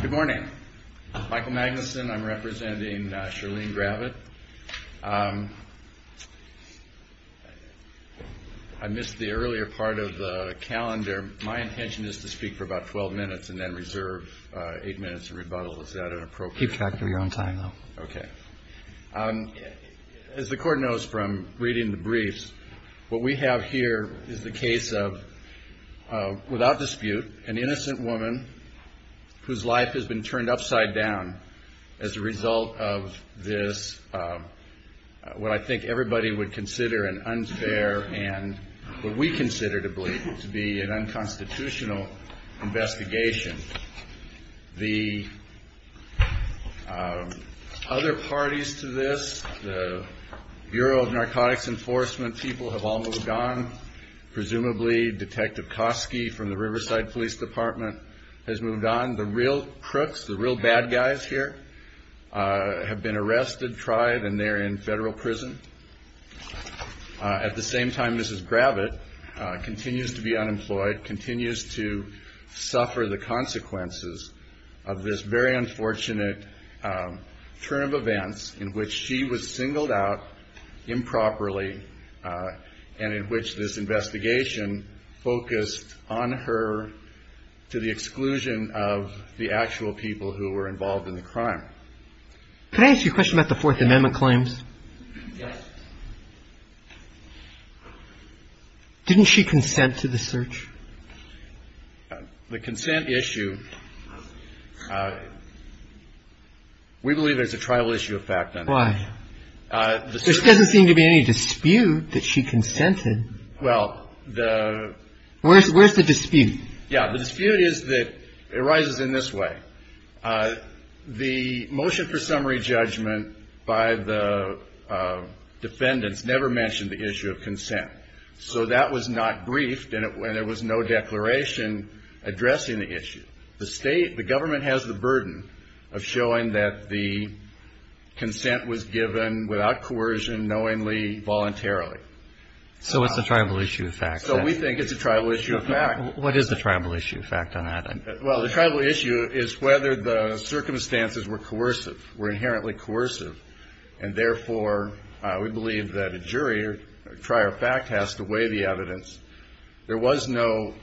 Good morning. Michael Magnuson. I'm representing Charlene Gravitt. I missed the earlier part of the calendar. My intention is to speak for about 12 minutes and then reserve 8 minutes in rebuttal. Is that inappropriate? Keep track of your own time, though. Okay. As the Court knows from reading the briefs, what we have here is the case of, without dispute, an innocent woman whose life has been turned upside down as a result of this, what I think everybody would consider an unfair and what we consider to be an unconstitutional investigation. The other parties to this, the Bureau of Narcotics Enforcement people have all moved on. Presumably, Detective Kosky from the Riverside Police Department has moved on. The real crooks, the real bad guys here have been arrested, tried, and they're in federal prison. At the same time, Mrs. Gravitt continues to be unemployed, continues to suffer the consequences of this very unfortunate turn of events in which she was singled out improperly and in which this investigation focused on her to the exclusion of the actual people who were involved in the crime. Could I ask you a question about the Fourth Amendment claims? Yes. Didn't she consent to the search? The consent issue, we believe there's a trial issue effect on that. Why? There doesn't seem to be any dispute that she consented. Well, the – Where's the dispute? Yeah, the dispute is that it arises in this way. The motion for summary judgment by the defendants never mentioned the issue of consent, so that was not briefed and there was no declaration addressing the issue. The state, the government has the burden of showing that the consent was given without coercion, knowingly, voluntarily. So it's a trial issue effect. So we think it's a trial issue effect. What is the trial issue effect on that? Well, the trial issue is whether the circumstances were coercive, were inherently coercive. And therefore, we believe that a jury or a trial fact has to weigh the evidence. There was no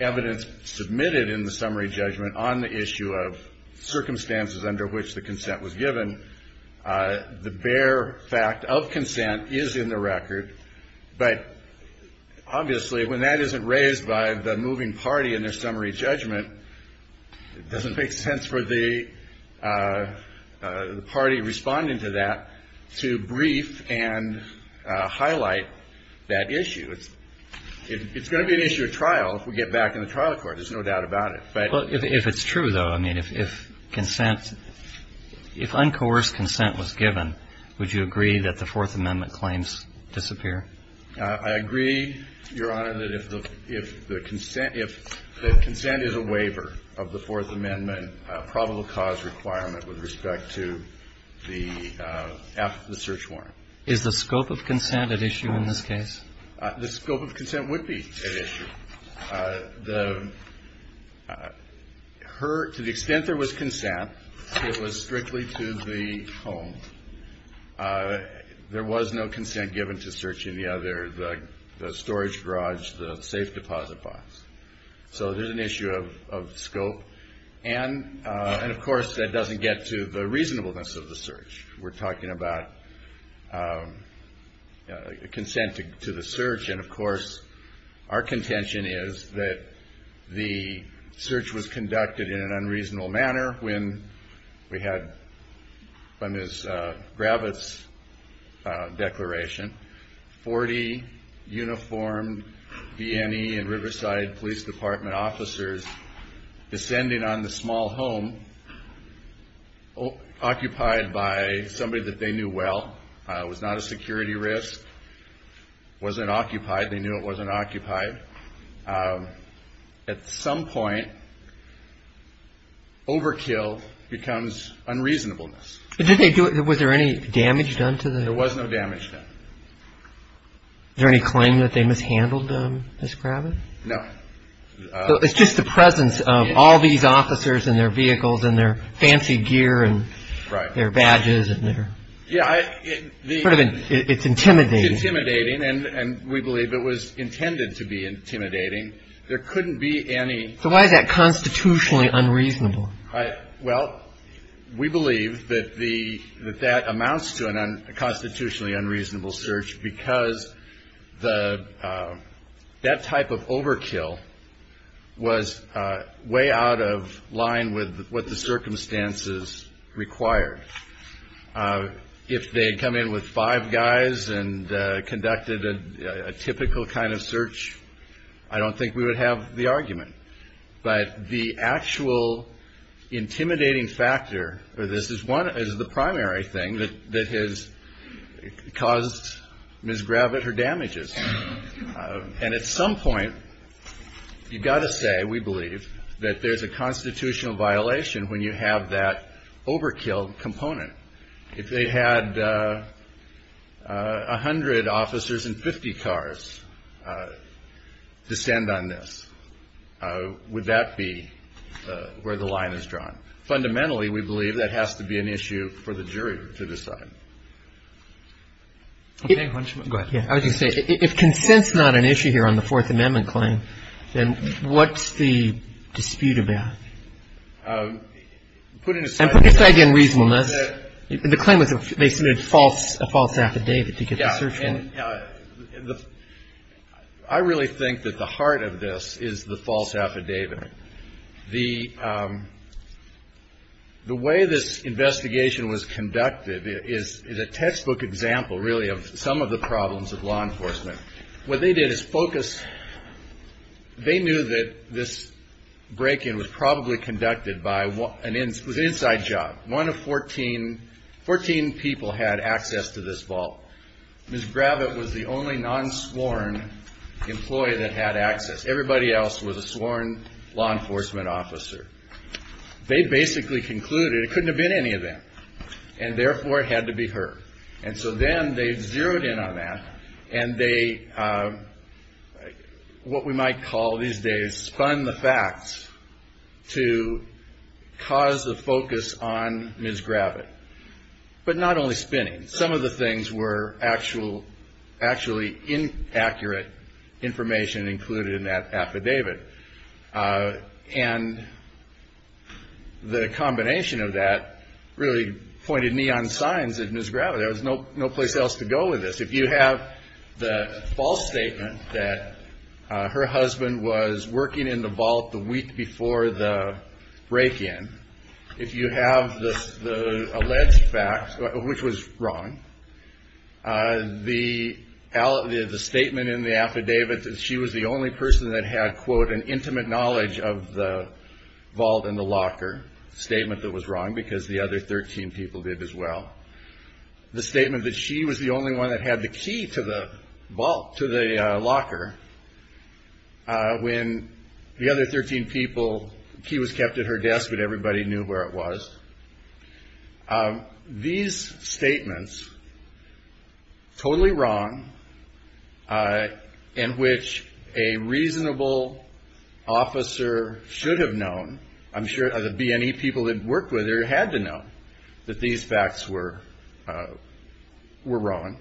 evidence submitted in the summary judgment on the issue of circumstances under which the consent was given. The bare fact of consent is in the record. But obviously, when that isn't raised by the moving party in their summary judgment, it doesn't make sense for the party responding to that to brief and highlight that issue. It's going to be an issue of trial if we get back in the trial court. There's no doubt about it. Well, if it's true, though, I mean, if consent, if uncoerced consent was given, would you agree that the Fourth Amendment claims disappear? I agree, Your Honor, that if the consent is a waiver of the Fourth Amendment probable cause requirement with respect to the search warrant. Is the scope of consent at issue in this case? The scope of consent would be at issue. To the extent there was consent, it was strictly to the home. There was no consent given to searching the other, the storage garage, the safe deposit box. So there's an issue of scope. And, of course, that doesn't get to the reasonableness of the search. We're talking about consent to the search. And, of course, our contention is that the search was conducted in an unreasonable manner. we had from his Gravitz declaration, 40 uniformed V&E and Riverside Police Department officers descending on the small home occupied by somebody that they knew well. It was not a security risk. It wasn't occupied. They knew it wasn't occupied. At some point, overkill becomes unreasonableness. Did they do it? Was there any damage done to them? There was no damage done. Is there any claim that they mishandled them, Ms. Gravitz? No. It's just the presence of all these officers and their vehicles and their fancy gear and their badges. Yeah. It's intimidating. And we believe it was intended to be intimidating. There couldn't be any. So why is that constitutionally unreasonable? Well, we believe that that amounts to a constitutionally unreasonable search because that type of overkill was way out of line with what the circumstances required. If they had come in with five guys and conducted a typical kind of search, I don't think we would have the argument. But the actual intimidating factor for this is the primary thing that has caused Ms. Gravitz her damages. And at some point, you've got to say, we believe, that there's a constitutional violation when you have that overkill component. If they had 100 officers and 50 cars descend on this, would that be where the line is drawn? Fundamentally, we believe that has to be an issue for the jury to decide. Okay. Go ahead. I was going to say, if consent's not an issue here on the Fourth Amendment claim, then what's the dispute about? Put it aside. And put aside, again, reasonableness. The claim was they submitted a false affidavit to get the search warrant. Yeah. I really think that the heart of this is the false affidavit. The way this investigation was conducted is a textbook example, really, of some of the problems of law enforcement. What they did is focus. They knew that this break-in was probably conducted by an inside job. One of 14 people had access to this vault. Ms. Gravitz was the only non-sworn employee that had access. Everybody else was a sworn law enforcement officer. They basically concluded it couldn't have been any of them, and therefore it had to be her. And so then they zeroed in on that, and they, what we might call these days, spun the facts to cause the focus on Ms. Gravitz. But not only spinning. Some of the things were actually inaccurate information included in that affidavit. And the combination of that really pointed neon signs at Ms. Gravitz. There was no place else to go with this. If you have the false statement that her husband was working in the vault the week before the break-in, if you have the alleged fact, which was wrong, the statement in the affidavit that she was the only person that had, quote, an intimate knowledge of the vault and the locker, statement that was wrong because the other 13 people did as well, the statement that she was the only one that had the key to the locker, when the other 13 people, the key was kept at her desk, but everybody knew where it was. These statements, totally wrong, in which a reasonable officer should have known, I'm sure the B&E people that worked with her had to know that these facts were wrong.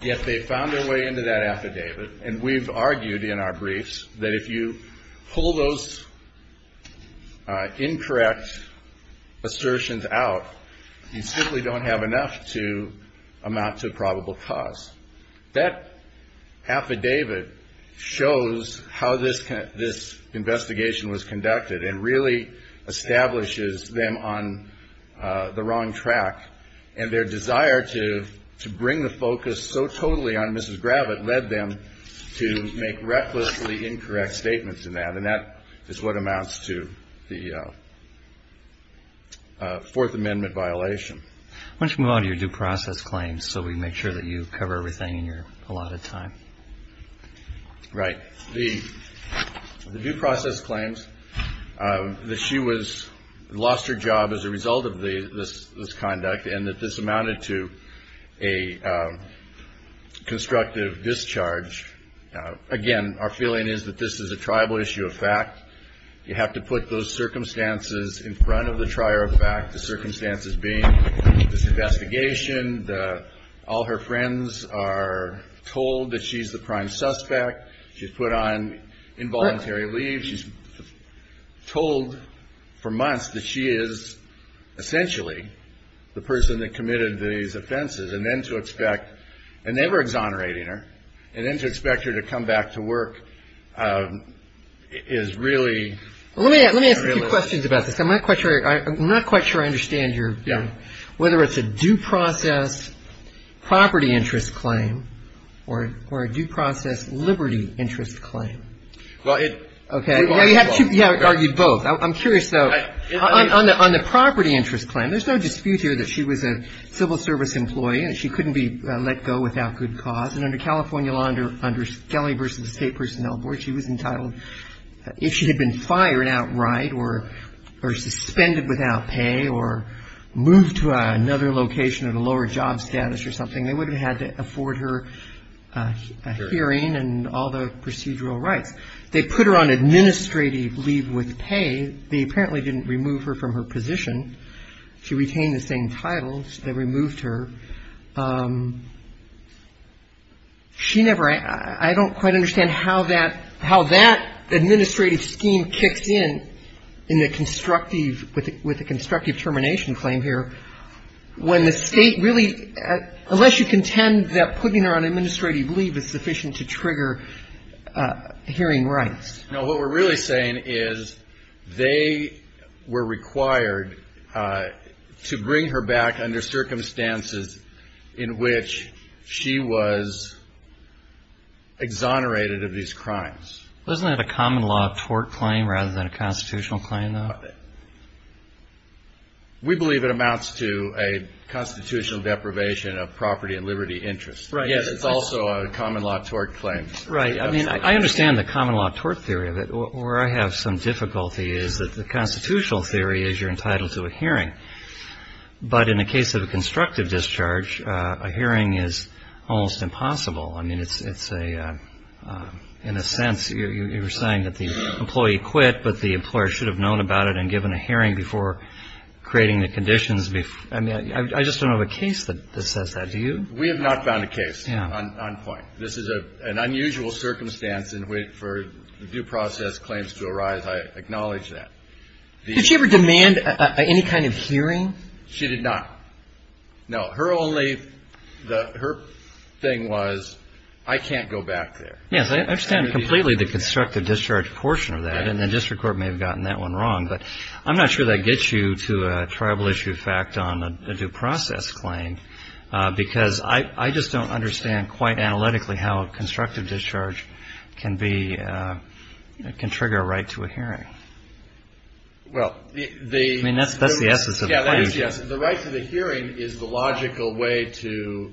Yet they found their way into that affidavit. And we've argued in our briefs that if you pull those incorrect assertions out, you simply don't have enough to amount to a probable cause. That affidavit shows how this investigation was conducted and really establishes them on the wrong track and their desire to bring the focus so totally on Mrs. Gravitt led them to make recklessly incorrect statements in that. And that is what amounts to the Fourth Amendment violation. Why don't you move on to your due process claims so we make sure that you cover everything in your allotted time. Right. The due process claims that she lost her job as a result of this conduct and that this amounted to a constructive discharge. Again, our feeling is that this is a triable issue of fact. You have to put those circumstances in front of the trier of fact, the circumstances being this investigation, all her friends are told that she's the prime suspect. She's put on involuntary leave. She's told for months that she is essentially the person that committed these offenses. And then to expect, and they were exonerating her, and then to expect her to come back to work is really unrealistic. Let me ask a few questions about this. I'm not quite sure I understand whether it's a due process property interest claim or a due process liberty interest claim. Okay. You have to argue both. I'm curious, though, on the property interest claim, there's no dispute here that she was a civil service employee and she couldn't be let go without good cause. And under California law, under Kelly v. State Personnel Board, she was entitled, if she had been fired outright or suspended without pay or moved to another location at a lower job status or something, they would have had to afford her a hearing and all the procedural rights. They put her on administrative leave with pay. They apparently didn't remove her from her position. She retained the same titles. They removed her. She never – I don't quite understand how that – how that administrative scheme kicks in in a constructive – with a constructive termination claim here when the State really – Would you contend that putting her on administrative leave is sufficient to trigger hearing rights? No. What we're really saying is they were required to bring her back under circumstances in which she was exonerated of these crimes. Isn't that a common law tort claim rather than a constitutional claim, though? We believe it amounts to a constitutional deprivation of property and liberty interest. Yes, it's also a common law tort claim. Right. I mean, I understand the common law tort theory, but where I have some difficulty is that the constitutional theory is you're entitled to a hearing. But in the case of a constructive discharge, a hearing is almost impossible. I mean, it's a – in a sense, you're saying that the employee quit, but the employer should have known about it and given a hearing before creating the conditions. I mean, I just don't have a case that says that. Do you? We have not found a case on point. This is an unusual circumstance in which for due process claims to arise. I acknowledge that. Did she ever demand any kind of hearing? She did not. No. Her only – her thing was I can't go back there. Yes, I understand completely the constructive discharge portion of that, and the district court may have gotten that one wrong. But I'm not sure that gets you to a tribal issue fact on a due process claim, because I just don't understand quite analytically how a constructive discharge can be – can trigger a right to a hearing. Well, the – I mean, that's the essence of the claim. Yes, yes. The right to the hearing is the logical way to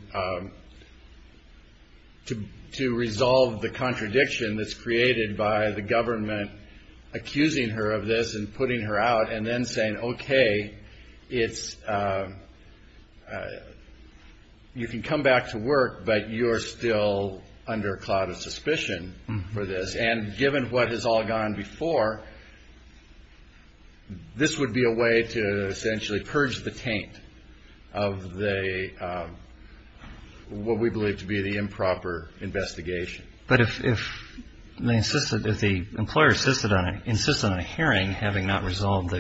resolve the contradiction that's created by the government accusing her of this and putting her out and then saying, okay, it's – you can come back to work, but you're still under a cloud of suspicion for this. And given what has all gone before, this would be a way to essentially purge the taint of the – what we believe to be the improper investigation. But if they insisted – if the employer insisted on a hearing having not resolved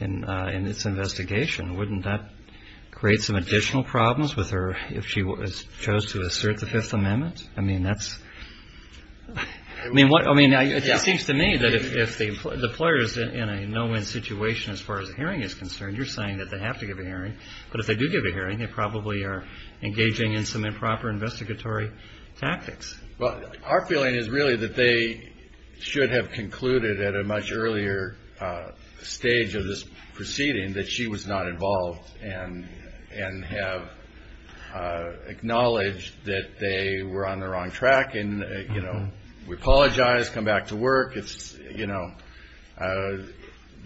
in its investigation, wouldn't that create some additional problems with her if she chose to assert the Fifth Amendment? I mean, that's – I mean, it seems to me that if the employer is in a no-win situation as far as a hearing is concerned, you're saying that they have to give a hearing. But if they do give a hearing, they probably are engaging in some improper investigatory tactics. Well, our feeling is really that they should have concluded at a much earlier stage of this proceeding that she was not involved and have acknowledged that they were on the wrong track and, you know, we apologize, come back to work. You know,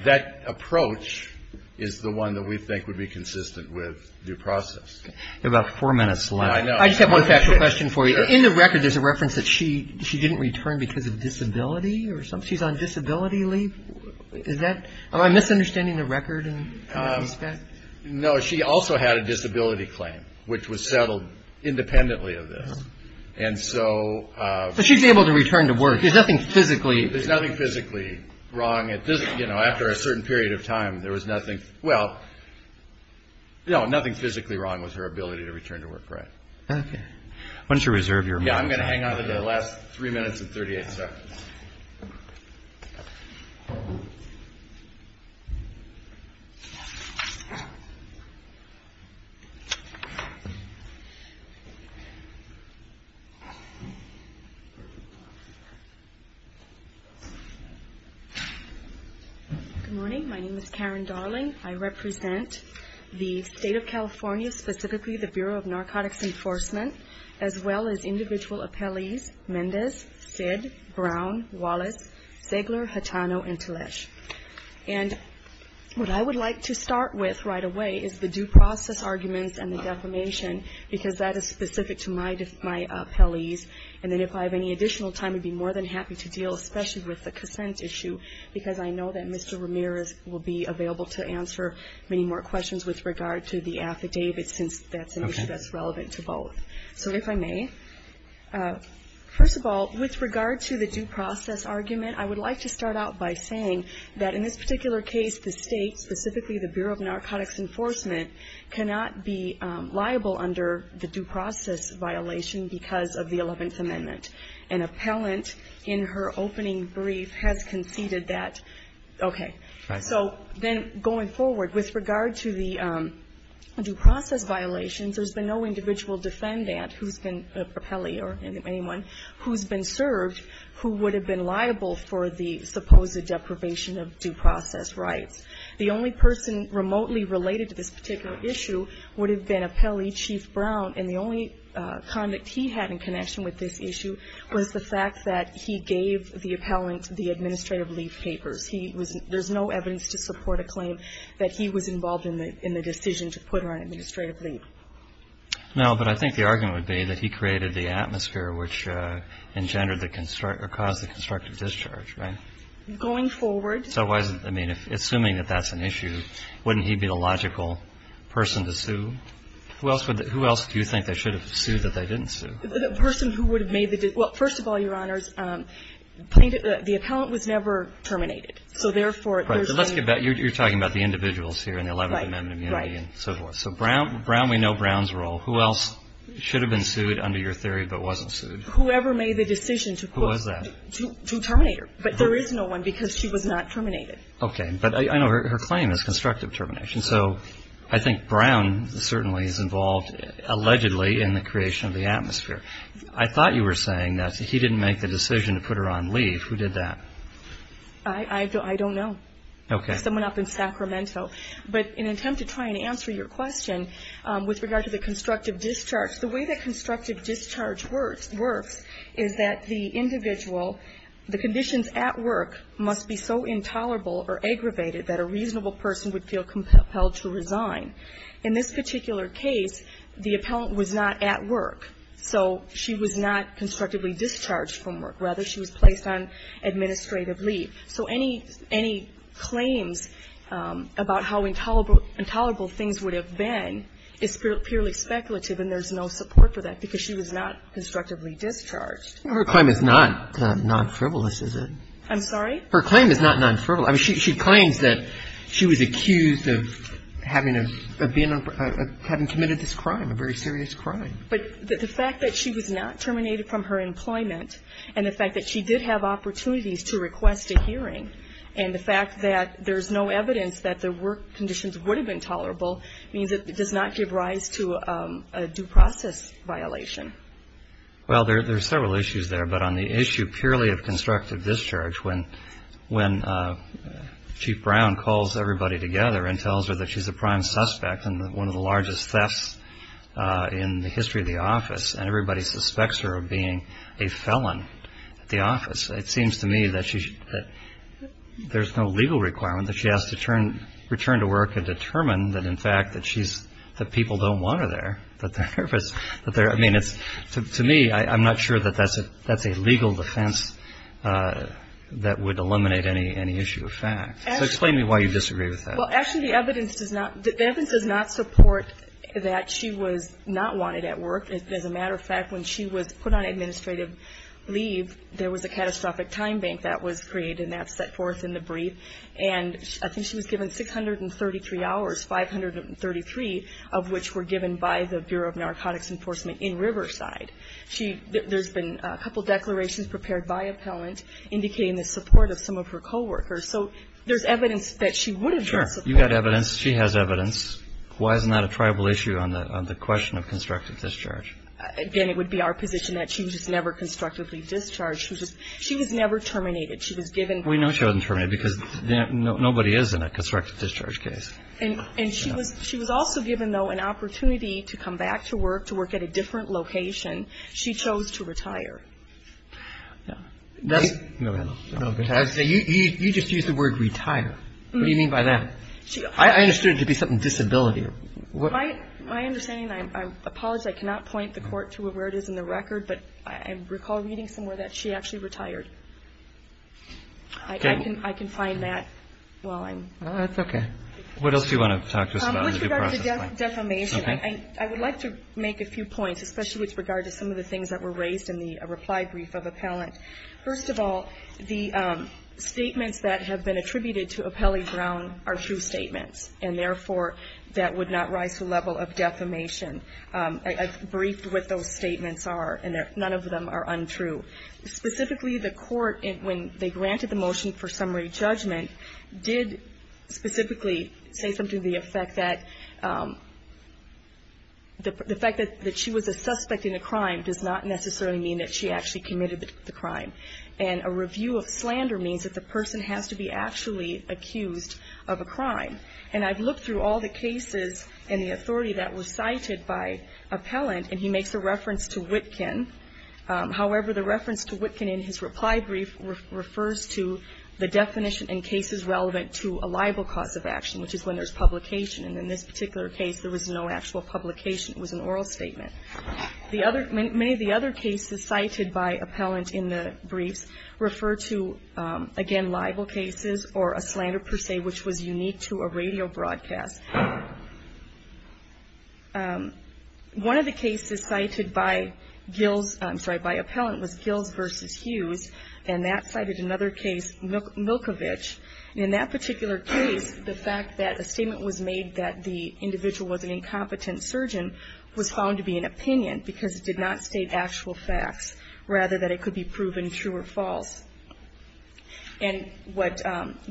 that approach is the one that we think would be consistent with due process. You have about four minutes left. I know. I just have one factual question for you. In the record, there's a reference that she didn't return because of disability or something. She's on disability leave. Is that – am I misunderstanding the record in that respect? No. She also had a disability claim, which was settled independently of this. And so – But she's able to return to work. There's nothing physically – There's nothing physically wrong. You know, after a certain period of time, there was nothing – well, no, nothing physically wrong with her ability to return to work, right. Okay. Why don't you reserve your remarks. Yeah, I'm going to hang on to the last three minutes and 38 seconds. Good morning. My name is Karen Darling. I represent the State of California, specifically the Bureau of Narcotics Enforcement, as well as individual appellees, Mendes, Sid, Brown, Wallace, Zegler, Hatano, and Talich. And what I would like to start with right away is the due process arguments and the defamation, because that is specific to my appellees. And then if I have any additional time, I'd be more than happy to deal, especially with the consent issue, because I know that Mr. Ramirez will be available to answer many more questions with regard to the affidavit, since that's an issue that's relevant to both. So if I may, first of all, with regard to the due process argument, I would like to start out by saying that in this particular case, the State, specifically the Bureau of Narcotics Enforcement, cannot be liable under the due process violation because of the Eleventh Amendment. An appellant in her opening brief has conceded that, okay. So then going forward, with regard to the due process violations, there's been no individual defendant who's been an appellee or anyone who's been served who would have been liable for the supposed deprivation of due process rights. The only person remotely related to this particular issue would have been an appellee, Chief Brown, and the only conduct he had in connection with this issue was the fact that he gave the appellant the administrative leave papers. There's no evidence to support a claim that he was involved in the decision to put her on administrative leave. Now, but I think the argument would be that he created the atmosphere which engendered the construct or caused the constructive discharge, right? Going forward. So why is it, I mean, assuming that that's an issue, wouldn't he be the logical person to sue? Who else would the – who else do you think they should have sued that they didn't sue? The person who would have made the – well, first of all, Your Honors, the appellant was never terminated. So therefore, there's no – So let's get back. You're talking about the individuals here in the 11th Amendment immunity and so forth. So Brown, we know Brown's role. Who else should have been sued under your theory but wasn't sued? Whoever made the decision to – Who was that? To terminate her. But there is no one because she was not terminated. Okay. But I know her claim is constructive termination. So I think Brown certainly is involved, allegedly, in the creation of the atmosphere. I thought you were saying that he didn't make the decision to put her on leave. Who did that? I don't know. Okay. Someone up in Sacramento. But in an attempt to try and answer your question with regard to the constructive discharge, the way that constructive discharge works is that the individual – the conditions at work must be so intolerable or aggravated that a reasonable person would feel compelled to resign. In this particular case, the appellant was not at work. So she was not constructively discharged from work. Rather, she was placed on administrative leave. So any claims about how intolerable things would have been is purely speculative and there's no support for that because she was not constructively discharged. Her claim is not non-frivolous, is it? I'm sorry? Her claim is not non-frivolous. I mean, she claims that she was accused of having committed this crime, a very serious crime. But the fact that she was not terminated from her employment and the fact that she did have opportunities to request a hearing and the fact that there's no evidence that the work conditions would have been tolerable means it does not give rise to a due process violation. Well, there's several issues there. But on the issue purely of constructive discharge, when Chief Brown calls everybody together and tells her that she's a prime suspect in one of the largest thefts in the It seems to me that there's no legal requirement that she has to return to work and determine that, in fact, that people don't want her there. I mean, to me, I'm not sure that that's a legal defense that would eliminate any issue of fact. So explain to me why you disagree with that. Well, actually, the evidence does not support that she was not wanted at work. As a matter of fact, when she was put on administrative leave, there was a catastrophic time bank that was created and that set forth in the brief. And I think she was given 633 hours, 533 of which were given by the Bureau of Narcotics Enforcement in Riverside. There's been a couple declarations prepared by appellant indicating the support of some of her coworkers. So there's evidence that she would have been supported. Sure. You've got evidence. She has evidence. Why isn't that a tribal issue on the question of constructive discharge? Again, it would be our position that she was never constructively discharged. She was never terminated. She was given. We know she wasn't terminated because nobody is in a constructive discharge case. And she was also given, though, an opportunity to come back to work, to work at a different location. She chose to retire. You just used the word retire. What do you mean by that? I understood it to be something disability. My understanding, I apologize, I cannot point the court to where it is in the record. But I recall reading somewhere that she actually retired. I can find that while I'm... That's okay. What else do you want to talk to us about? With regard to defamation, I would like to make a few points, especially with regard to some of the things that were raised in the reply brief of appellant. First of all, the statements that have been attributed to Apelli Brown are true statements. And, therefore, that would not rise to the level of defamation. I've briefed what those statements are, and none of them are untrue. Specifically, the court, when they granted the motion for summary judgment, did specifically say something to the effect that the fact that she was a suspect in a crime does not necessarily mean that she actually committed the crime. And a review of slander means that the person has to be actually accused of a crime. And I've looked through all the cases in the authority that were cited by appellant, and he makes a reference to Witkin. However, the reference to Witkin in his reply brief refers to the definition in cases relevant to a liable cause of action, which is when there's publication. And in this particular case, there was no actual publication. It was an oral statement. Many of the other cases cited by appellant in the briefs refer to, again, liable cases or a slander per se, which was unique to a radio broadcast. One of the cases cited by Gills, I'm sorry, by appellant was Gills v. Hughes, and that cited another case, Milkovich. And in that particular case, the fact that a statement was made that the individual was an incompetent surgeon was found to be an opinion because it did not state actual facts, rather that it could be proven true or false. And what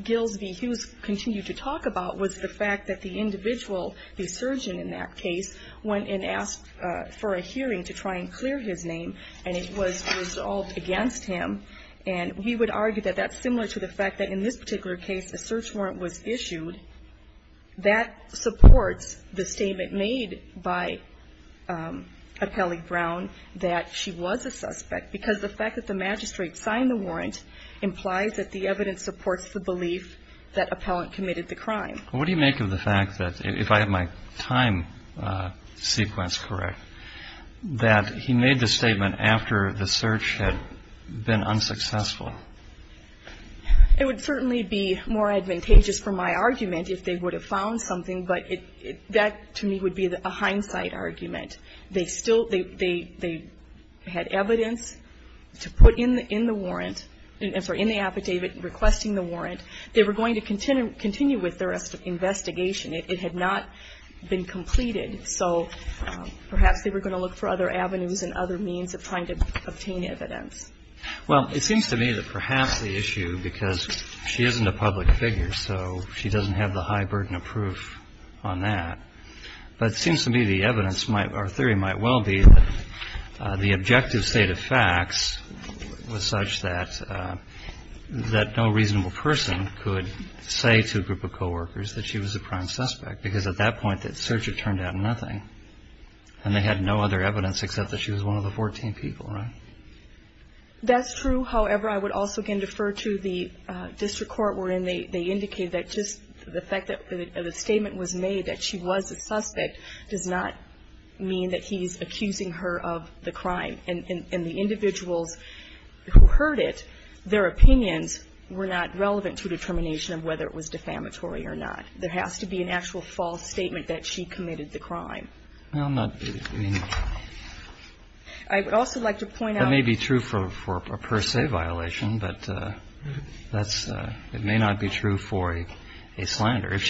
Gills v. Hughes continued to talk about was the fact that the individual, the surgeon in that case, went and asked for a hearing to try and clear his name, and it was resolved against him. And we would argue that that's similar to the fact that in this particular case, a search warrant was issued. That supports the statement made by Appellee Brown that she was a suspect because the fact that the magistrate signed the warrant implies that the evidence supports the belief that appellant committed the crime. Well, what do you make of the fact that, if I have my time sequence correct, that he made the statement after the search had been unsuccessful? It would certainly be more advantageous for my argument if they would have found something, but that, to me, would be a hindsight argument. They still they had evidence to put in the warrant, I'm sorry, in the affidavit requesting the warrant. They were going to continue with their investigation. It had not been completed. So perhaps they were going to look for other avenues and other means of trying to obtain evidence. Well, it seems to me that perhaps the issue, because she isn't a public figure, so she doesn't have the high burden of proof on that. But it seems to me the evidence might or theory might well be that the objective state of facts was such that no reasonable person could say to a group of coworkers that she was a prime suspect, because at that point that search had turned out nothing. And they had no other evidence except that she was one of the 14 people, right? That's true. However, I would also again defer to the district court wherein they indicated that just the fact that the statement was made that she was a suspect does not mean that he's accusing her of the crime. And the individuals who heard it, their opinions were not relevant to a determination of whether it was defamatory or not. There has to be an actual false statement that she committed the crime. I would also like to point out. That may be true for a per se violation, but it may not be true for a slander. If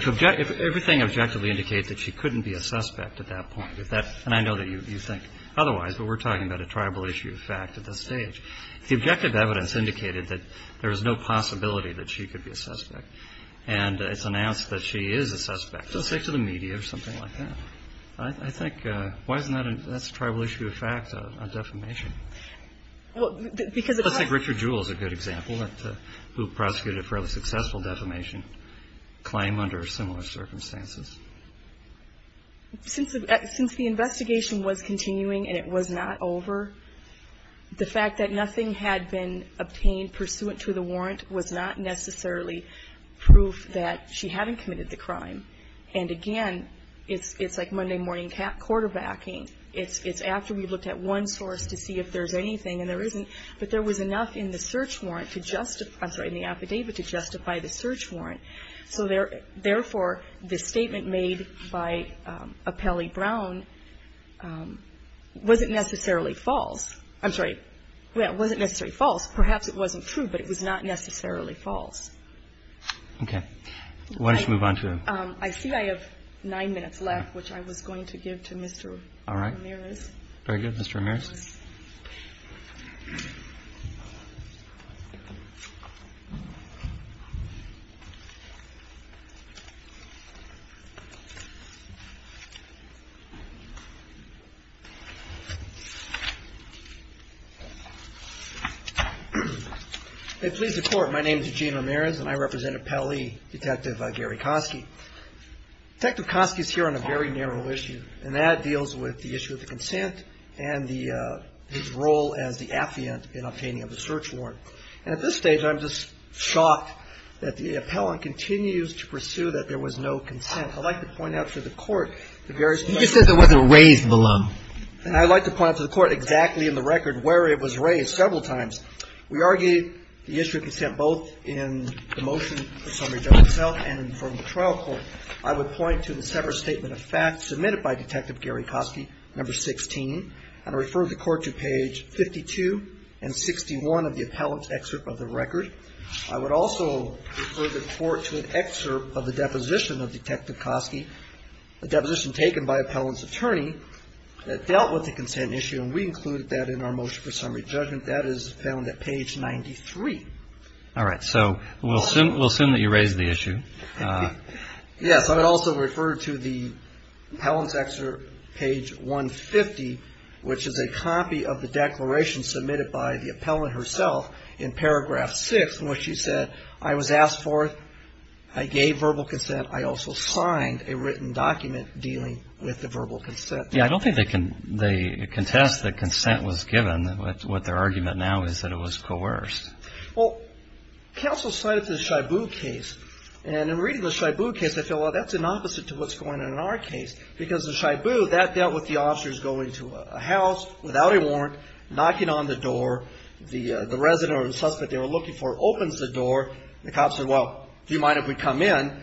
everything objectively indicates that she couldn't be a suspect at that point, and I know that you think otherwise, but we're talking about a tribal issue of fact at this stage. If the objective evidence indicated that there was no possibility that she could be a suspect and it's announced that she is a suspect, just say to the media or something like that. I think that's a tribal issue of fact on defamation. I think Richard Jewell is a good example who prosecuted a fairly successful defamation claim under similar circumstances. Since the investigation was continuing and it was not over, the fact that nothing had been obtained pursuant to the warrant was not necessarily proof that she hadn't committed the crime. And again, it's like Monday morning quarterbacking. It's after we've looked at one source to see if there's anything and there isn't, but there was enough in the search warrant to justify the search warrant. So therefore, the statement made by Apelli Brown wasn't necessarily false. I'm sorry. It wasn't necessarily false. Perhaps it wasn't true, but it was not necessarily false. Okay. Why don't you move on to the next one? I see I have nine minutes left, which I was going to give to Mr. Ramirez. All right. Mr. Ramirez. Please report. My name is Eugene Ramirez, and I represent Apelli, Detective Gary Kosky. Detective Kosky is here on a very narrow issue, and that deals with the issue of the consent and the intent of the defamation case. I'm going to give you a brief overview of the case. was presented with a warrant for his role as the affiant in obtaining of the search warrant. And at this stage, I'm just shocked that the appellant continues to pursue that there was no consent. I'd like to point out to the Court the various issues. You said there was a raised balloon. And I'd like to point out to the Court exactly in the record where it was raised several times. We argued the issue of consent both in the motion for summary judgment itself and from the trial court. I would point to the separate statement of facts submitted by Detective Gary Kosky, number 16, and refer the Court to page 52 and 61 of the appellant's excerpt of the record. I would also refer the Court to an excerpt of the deposition of Detective Kosky, a deposition taken by appellant's attorney that dealt with the consent issue, and we included that in our motion for summary judgment. That is found at page 93. All right. So we'll assume that you raised the issue. Yes. I would also refer to the appellant's excerpt, page 150, which is a copy of the declaration submitted by the appellant herself in paragraph 6, in which she said, I was asked for it. I gave verbal consent. I also signed a written document dealing with the verbal consent. Yeah, I don't think they contest that consent was given. What their argument now is that it was coerced. Well, counsel cited the Shibu case, and in reading the Shibu case, I feel, well, that's an opposite to what's going on in our case because the Shibu, that dealt with the officers going to a house without a warrant, knocking on the door. The resident or the suspect they were looking for opens the door. The cops said, well, do you mind if we come in?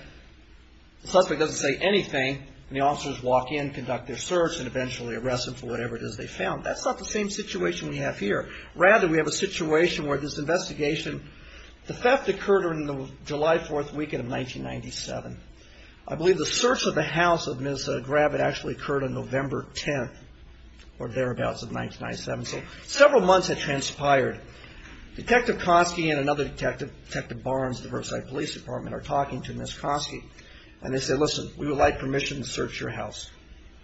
The suspect doesn't say anything, and the officers walk in, conduct their search, and eventually arrest them for whatever it is they found. That's not the same situation we have here. Rather, we have a situation where this investigation, the theft occurred on the July 4th weekend of 1997. I believe the search of the house of Ms. Gravitt actually occurred on November 10th or thereabouts of 1997. So several months had transpired. Detective Konski and another detective, Detective Barnes, of the Riverside Police Department are talking to Ms. Konski, and they say, listen, we would like permission to search your house.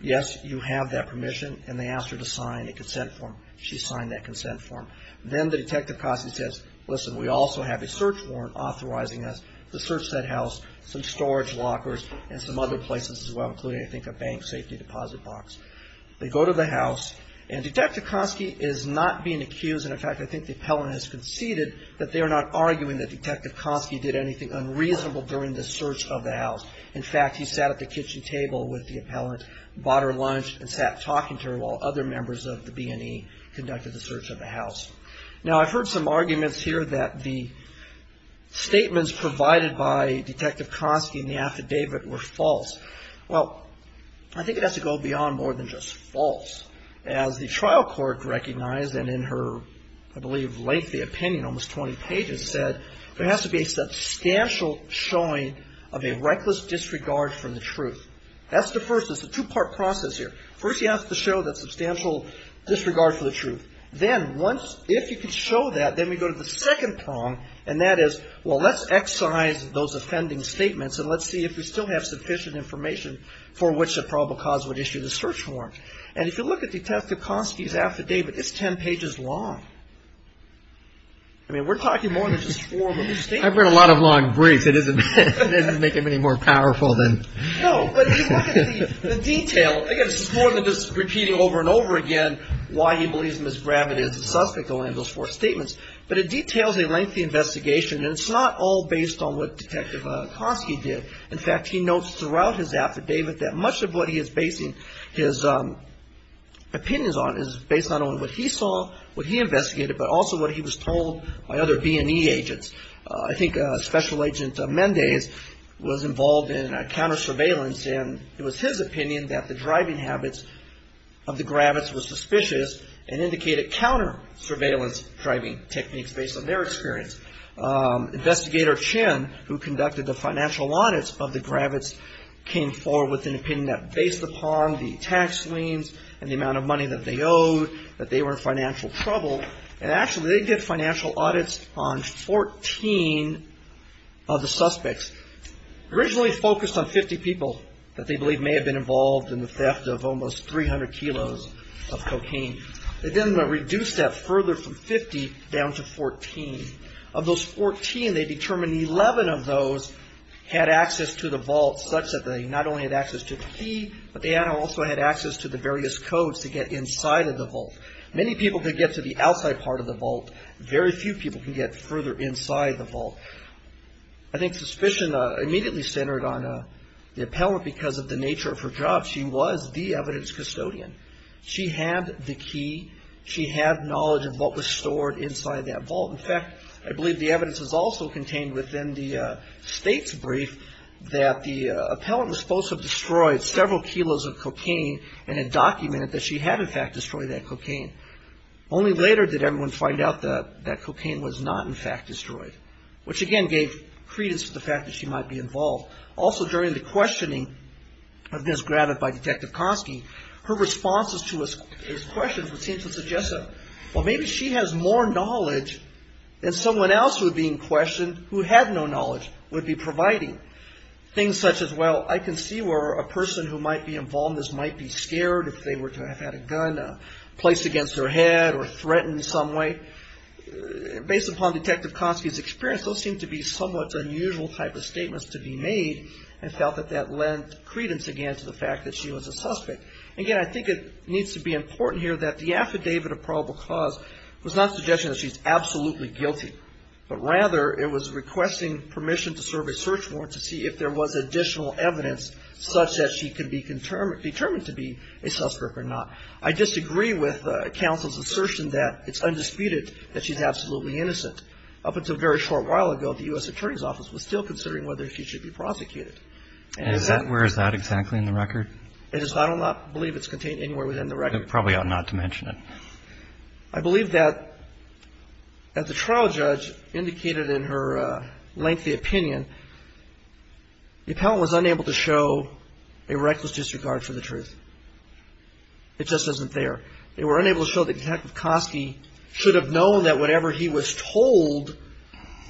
Yes, you have that permission, and they ask her to sign a consent form. She signed that consent form. Then the Detective Konski says, listen, we also have a search warrant authorizing us to search that house, some storage lockers, and some other places as well, including, I think, a bank safety deposit box. They go to the house, and Detective Konski is not being accused. In fact, I think the appellant has conceded that they are not arguing that Detective Konski did anything unreasonable during the search of the house. In fact, he sat at the kitchen table with the appellant, bought her lunch, and sat talking to her while other members of the B&E conducted the search of the house. Now, I've heard some arguments here that the statements provided by Detective Konski in the affidavit were false. Well, I think it has to go beyond more than just false. As the trial court recognized, and in her, I believe, lengthy opinion, almost 20 pages, said, there has to be a substantial showing of a reckless disregard for the truth. That's the first. It's a two-part process here. First, you have to show that substantial disregard for the truth. Then once, if you can show that, then we go to the second prong, and that is, well, let's excise those offending statements, and let's see if we still have sufficient information for which the probable cause would issue the search warrant. And if you look at Detective Konski's affidavit, it's 10 pages long. I mean, we're talking more than just four of them. I've read a lot of long briefs. It doesn't make them any more powerful than... No, but if you look at the detail, again, this is more than just repeating over and over again why he believes Ms. Gravitt is the suspect behind those four statements. But it details a lengthy investigation, and it's not all based on what Detective Konski did. In fact, he notes throughout his affidavit that much of what he is basing his opinions on is based not only on what he saw, what he investigated, but also what he was told by other B&E agents. I think Special Agent Mendez was involved in counter-surveillance, and it was his opinion that the driving habits of the Gravitts were suspicious and indicated counter-surveillance driving techniques based on their experience. Investigator Chin, who conducted the financial audits of the Gravitts, came forward with an opinion that based upon the tax liens and the amount of money that they owed, that they were in financial trouble. And actually, they did financial audits on 14 of the suspects, originally focused on 50 people that they believe may have been involved in the theft of almost 300 kilos of cocaine. They then reduced that further from 50 down to 14. Of those 14, they determined 11 of those had access to the vault, such that they not only had access to the key, but they also had access to the various codes to get inside of the vault. Many people could get to the outside part of the vault. Very few people can get further inside the vault. I think suspicion immediately centered on the appellant because of the nature of her job. She was the evidence custodian. She had the key. She had knowledge of what was stored inside that vault. In fact, I believe the evidence was also contained within the state's brief that the appellant was supposed to have destroyed several kilos of cocaine and had documented that she had, in fact, destroyed that cocaine. Only later did everyone find out that that cocaine was not, in fact, destroyed, which, again, gave credence to the fact that she might be involved. Also, during the questioning of this granted by Detective Konski, her responses to his questions would seem to suggest that, well, maybe she has more knowledge than someone else who had been questioned, who had no knowledge, would be providing. Things such as, well, I can see where a person who might be involved in this might be scared if they were to have had a gun placed against their head or threatened in some way. Based upon Detective Konski's experience, those seem to be somewhat unusual type of statements to be made and felt that that lent credence again to the fact that she was a suspect. Again, I think it needs to be important here that the affidavit of probable cause was not suggesting that she's absolutely guilty, but rather it was requesting permission to serve a search warrant to see if there was additional evidence such that she could be determined to be a suspect or not. I disagree with counsel's assertion that it's undisputed that she's absolutely innocent. Up until a very short while ago, the U.S. Attorney's Office was still considering whether she should be prosecuted. And is that – where is that exactly in the record? It is – I do not believe it's contained anywhere within the record. You probably ought not to mention it. I believe that, as the trial judge indicated in her lengthy opinion, the appellant was unable to show a reckless disregard for the truth. It just isn't there. They were unable to show that Detective Kosky should have known that whatever he was told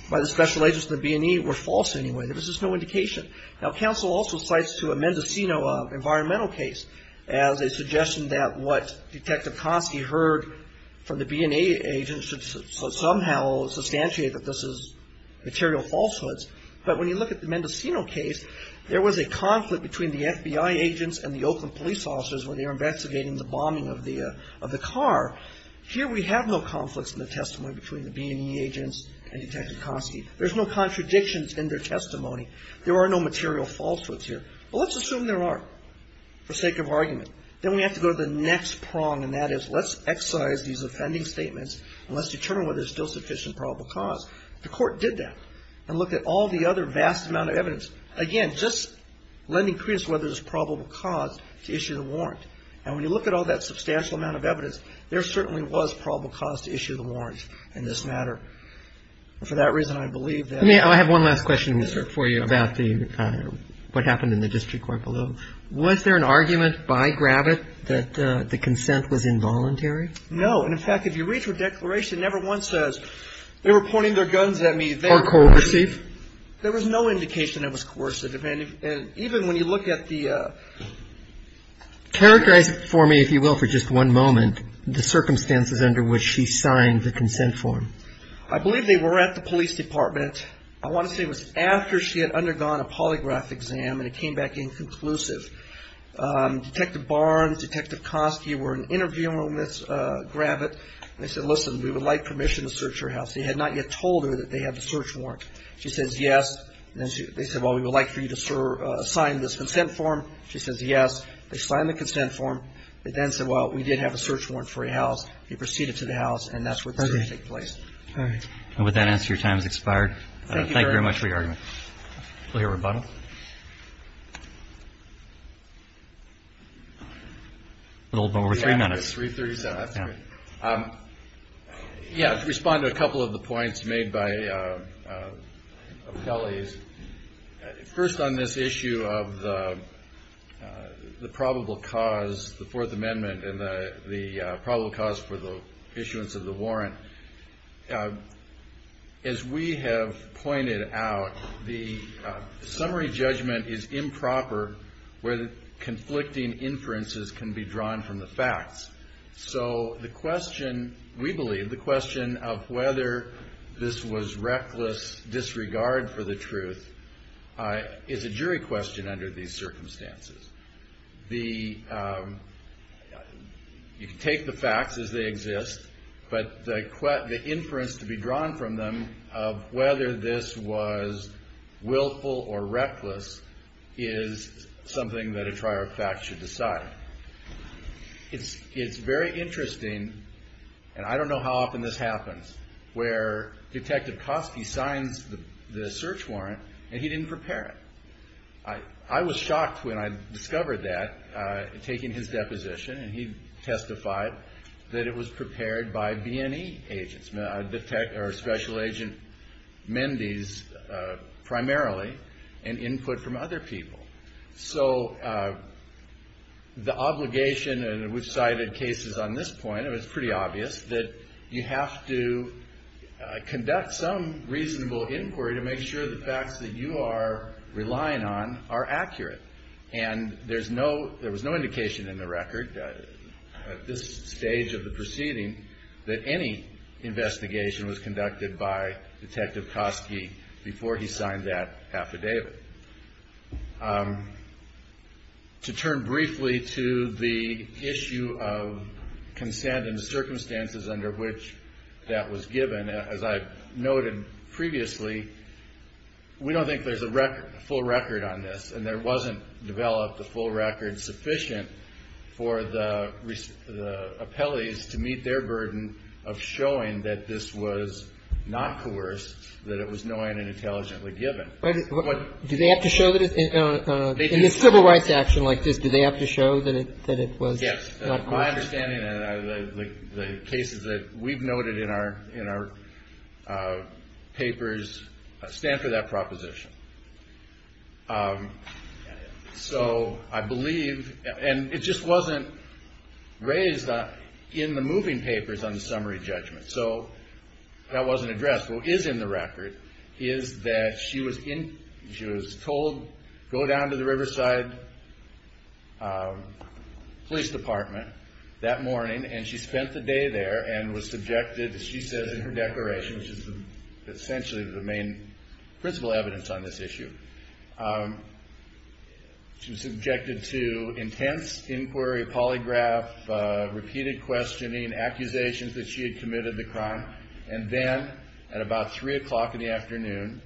by the special agents of the B&E were false anyway. There was just no indication. Now, counsel also cites to Mendocino an environmental case as a suggestion that what Detective Kosky heard from the B&E agents should somehow substantiate that this is material falsehoods. But when you look at the Mendocino case, there was a conflict between the FBI agents and the Oakland police officers when they were investigating the bombing of the car. Here we have no conflicts in the testimony between the B&E agents and Detective Kosky. There's no contradictions in their testimony. There are no material falsehoods here. But let's assume there are for sake of argument. Then we have to go to the next prong, and that is let's excise these offending statements and let's determine whether there's still sufficient probable cause. The court did that and looked at all the other vast amount of evidence, again, just lending credence to whether there's probable cause to issue the warrant. And when you look at all that substantial amount of evidence, there certainly was probable cause to issue the warrant in this matter. For that reason, I believe that I have one last question for you about what happened in the district court below. Was there an argument by Gravitt that the consent was involuntary? No. And, in fact, if you read her declaration, never once says they were pointing their guns at me. Or coercive. There was no indication it was coercive. And even when you look at the Characterize it for me, if you will, for just one moment, the circumstances under which she signed the consent form. I believe they were at the police department. I want to say it was after she had undergone a polygraph exam and it came back inconclusive. Detective Barnes, Detective Kosky were in an interview room with Gravitt, and they said, listen, we would like permission to search her house. They had not yet told her that they had the search warrant. She says, yes. They said, well, we would like for you to sign this consent form. She says, yes. They signed the consent form. They then said, well, we did have a search warrant for your house. You proceeded to the house, and that's where the search took place. All right. And with that answer, your time has expired. Thank you very much for your argument. We'll hear rebuttal. A little over three minutes. Yeah, it was 337. Yeah, to respond to a couple of the points made by colleagues, first on this issue of the probable cause, the Fourth Amendment, and the probable cause for the issuance of the warrant, as we have pointed out, the summary judgment is improper where conflicting inferences can be drawn from the facts. So the question, we believe, the question of whether this was reckless disregard for the truth is a jury question under these circumstances. You can take the facts as they exist, but the inference to be drawn from them of whether this was willful or reckless is something that a triarch fact should decide. It's very interesting, and I don't know how often this happens, where Detective Coskey signs the search warrant, and he didn't prepare it. I was shocked when I discovered that, taking his deposition, and he testified that it was prepared by B&E agents, or Special Agent Mendez primarily, and input from other people. So the obligation, and we've cited cases on this point, it was pretty obvious, that you have to conduct some reasonable inquiry to make sure the facts that you are relying on are accurate. And there was no indication in the record at this stage of the proceeding that any investigation was conducted by Detective Coskey before he signed that affidavit. To turn briefly to the issue of consent and the circumstances under which that was given, as I've noted previously, we don't think there's a full record on this, and there wasn't developed a full record sufficient for the appellees to meet their burden of showing that this was not coerced, that it was knowing and intelligently given. But do they have to show that in a civil rights action like this, do they have to show that it was not coerced? Yes, my understanding of the cases that we've noted in our papers stand for that proposition. So I believe, and it just wasn't raised in the moving papers on the summary judgment, so that wasn't addressed. What is in the record is that she was told, go down to the Riverside Police Department that morning, and she spent the day there and was subjected, as she says in her declaration, which is essentially the main principle evidence on this issue, she was subjected to intense inquiry, polygraph, repeated questioning, accusations that she had committed the crime, and then at about 3 o'clock in the afternoon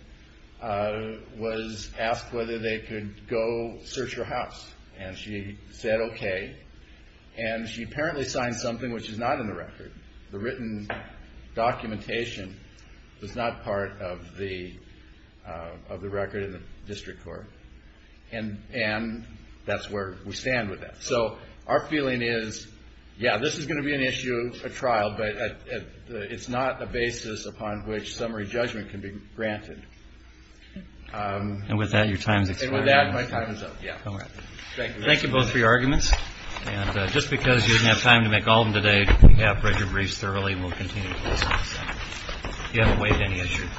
was asked whether they could go search her house, and she said okay, and she apparently signed something which is not in the record. The written documentation was not part of the record in the district court, and that's where we stand with that. So our feeling is, yeah, this is going to be an issue, a trial, but it's not a basis upon which summary judgment can be granted. And with that, your time has expired. And with that, my time is up. Thank you both for your arguments, and just because you didn't have time to make all of them today, we have read your briefs thoroughly and will continue to do so. If you haven't weighed any issues.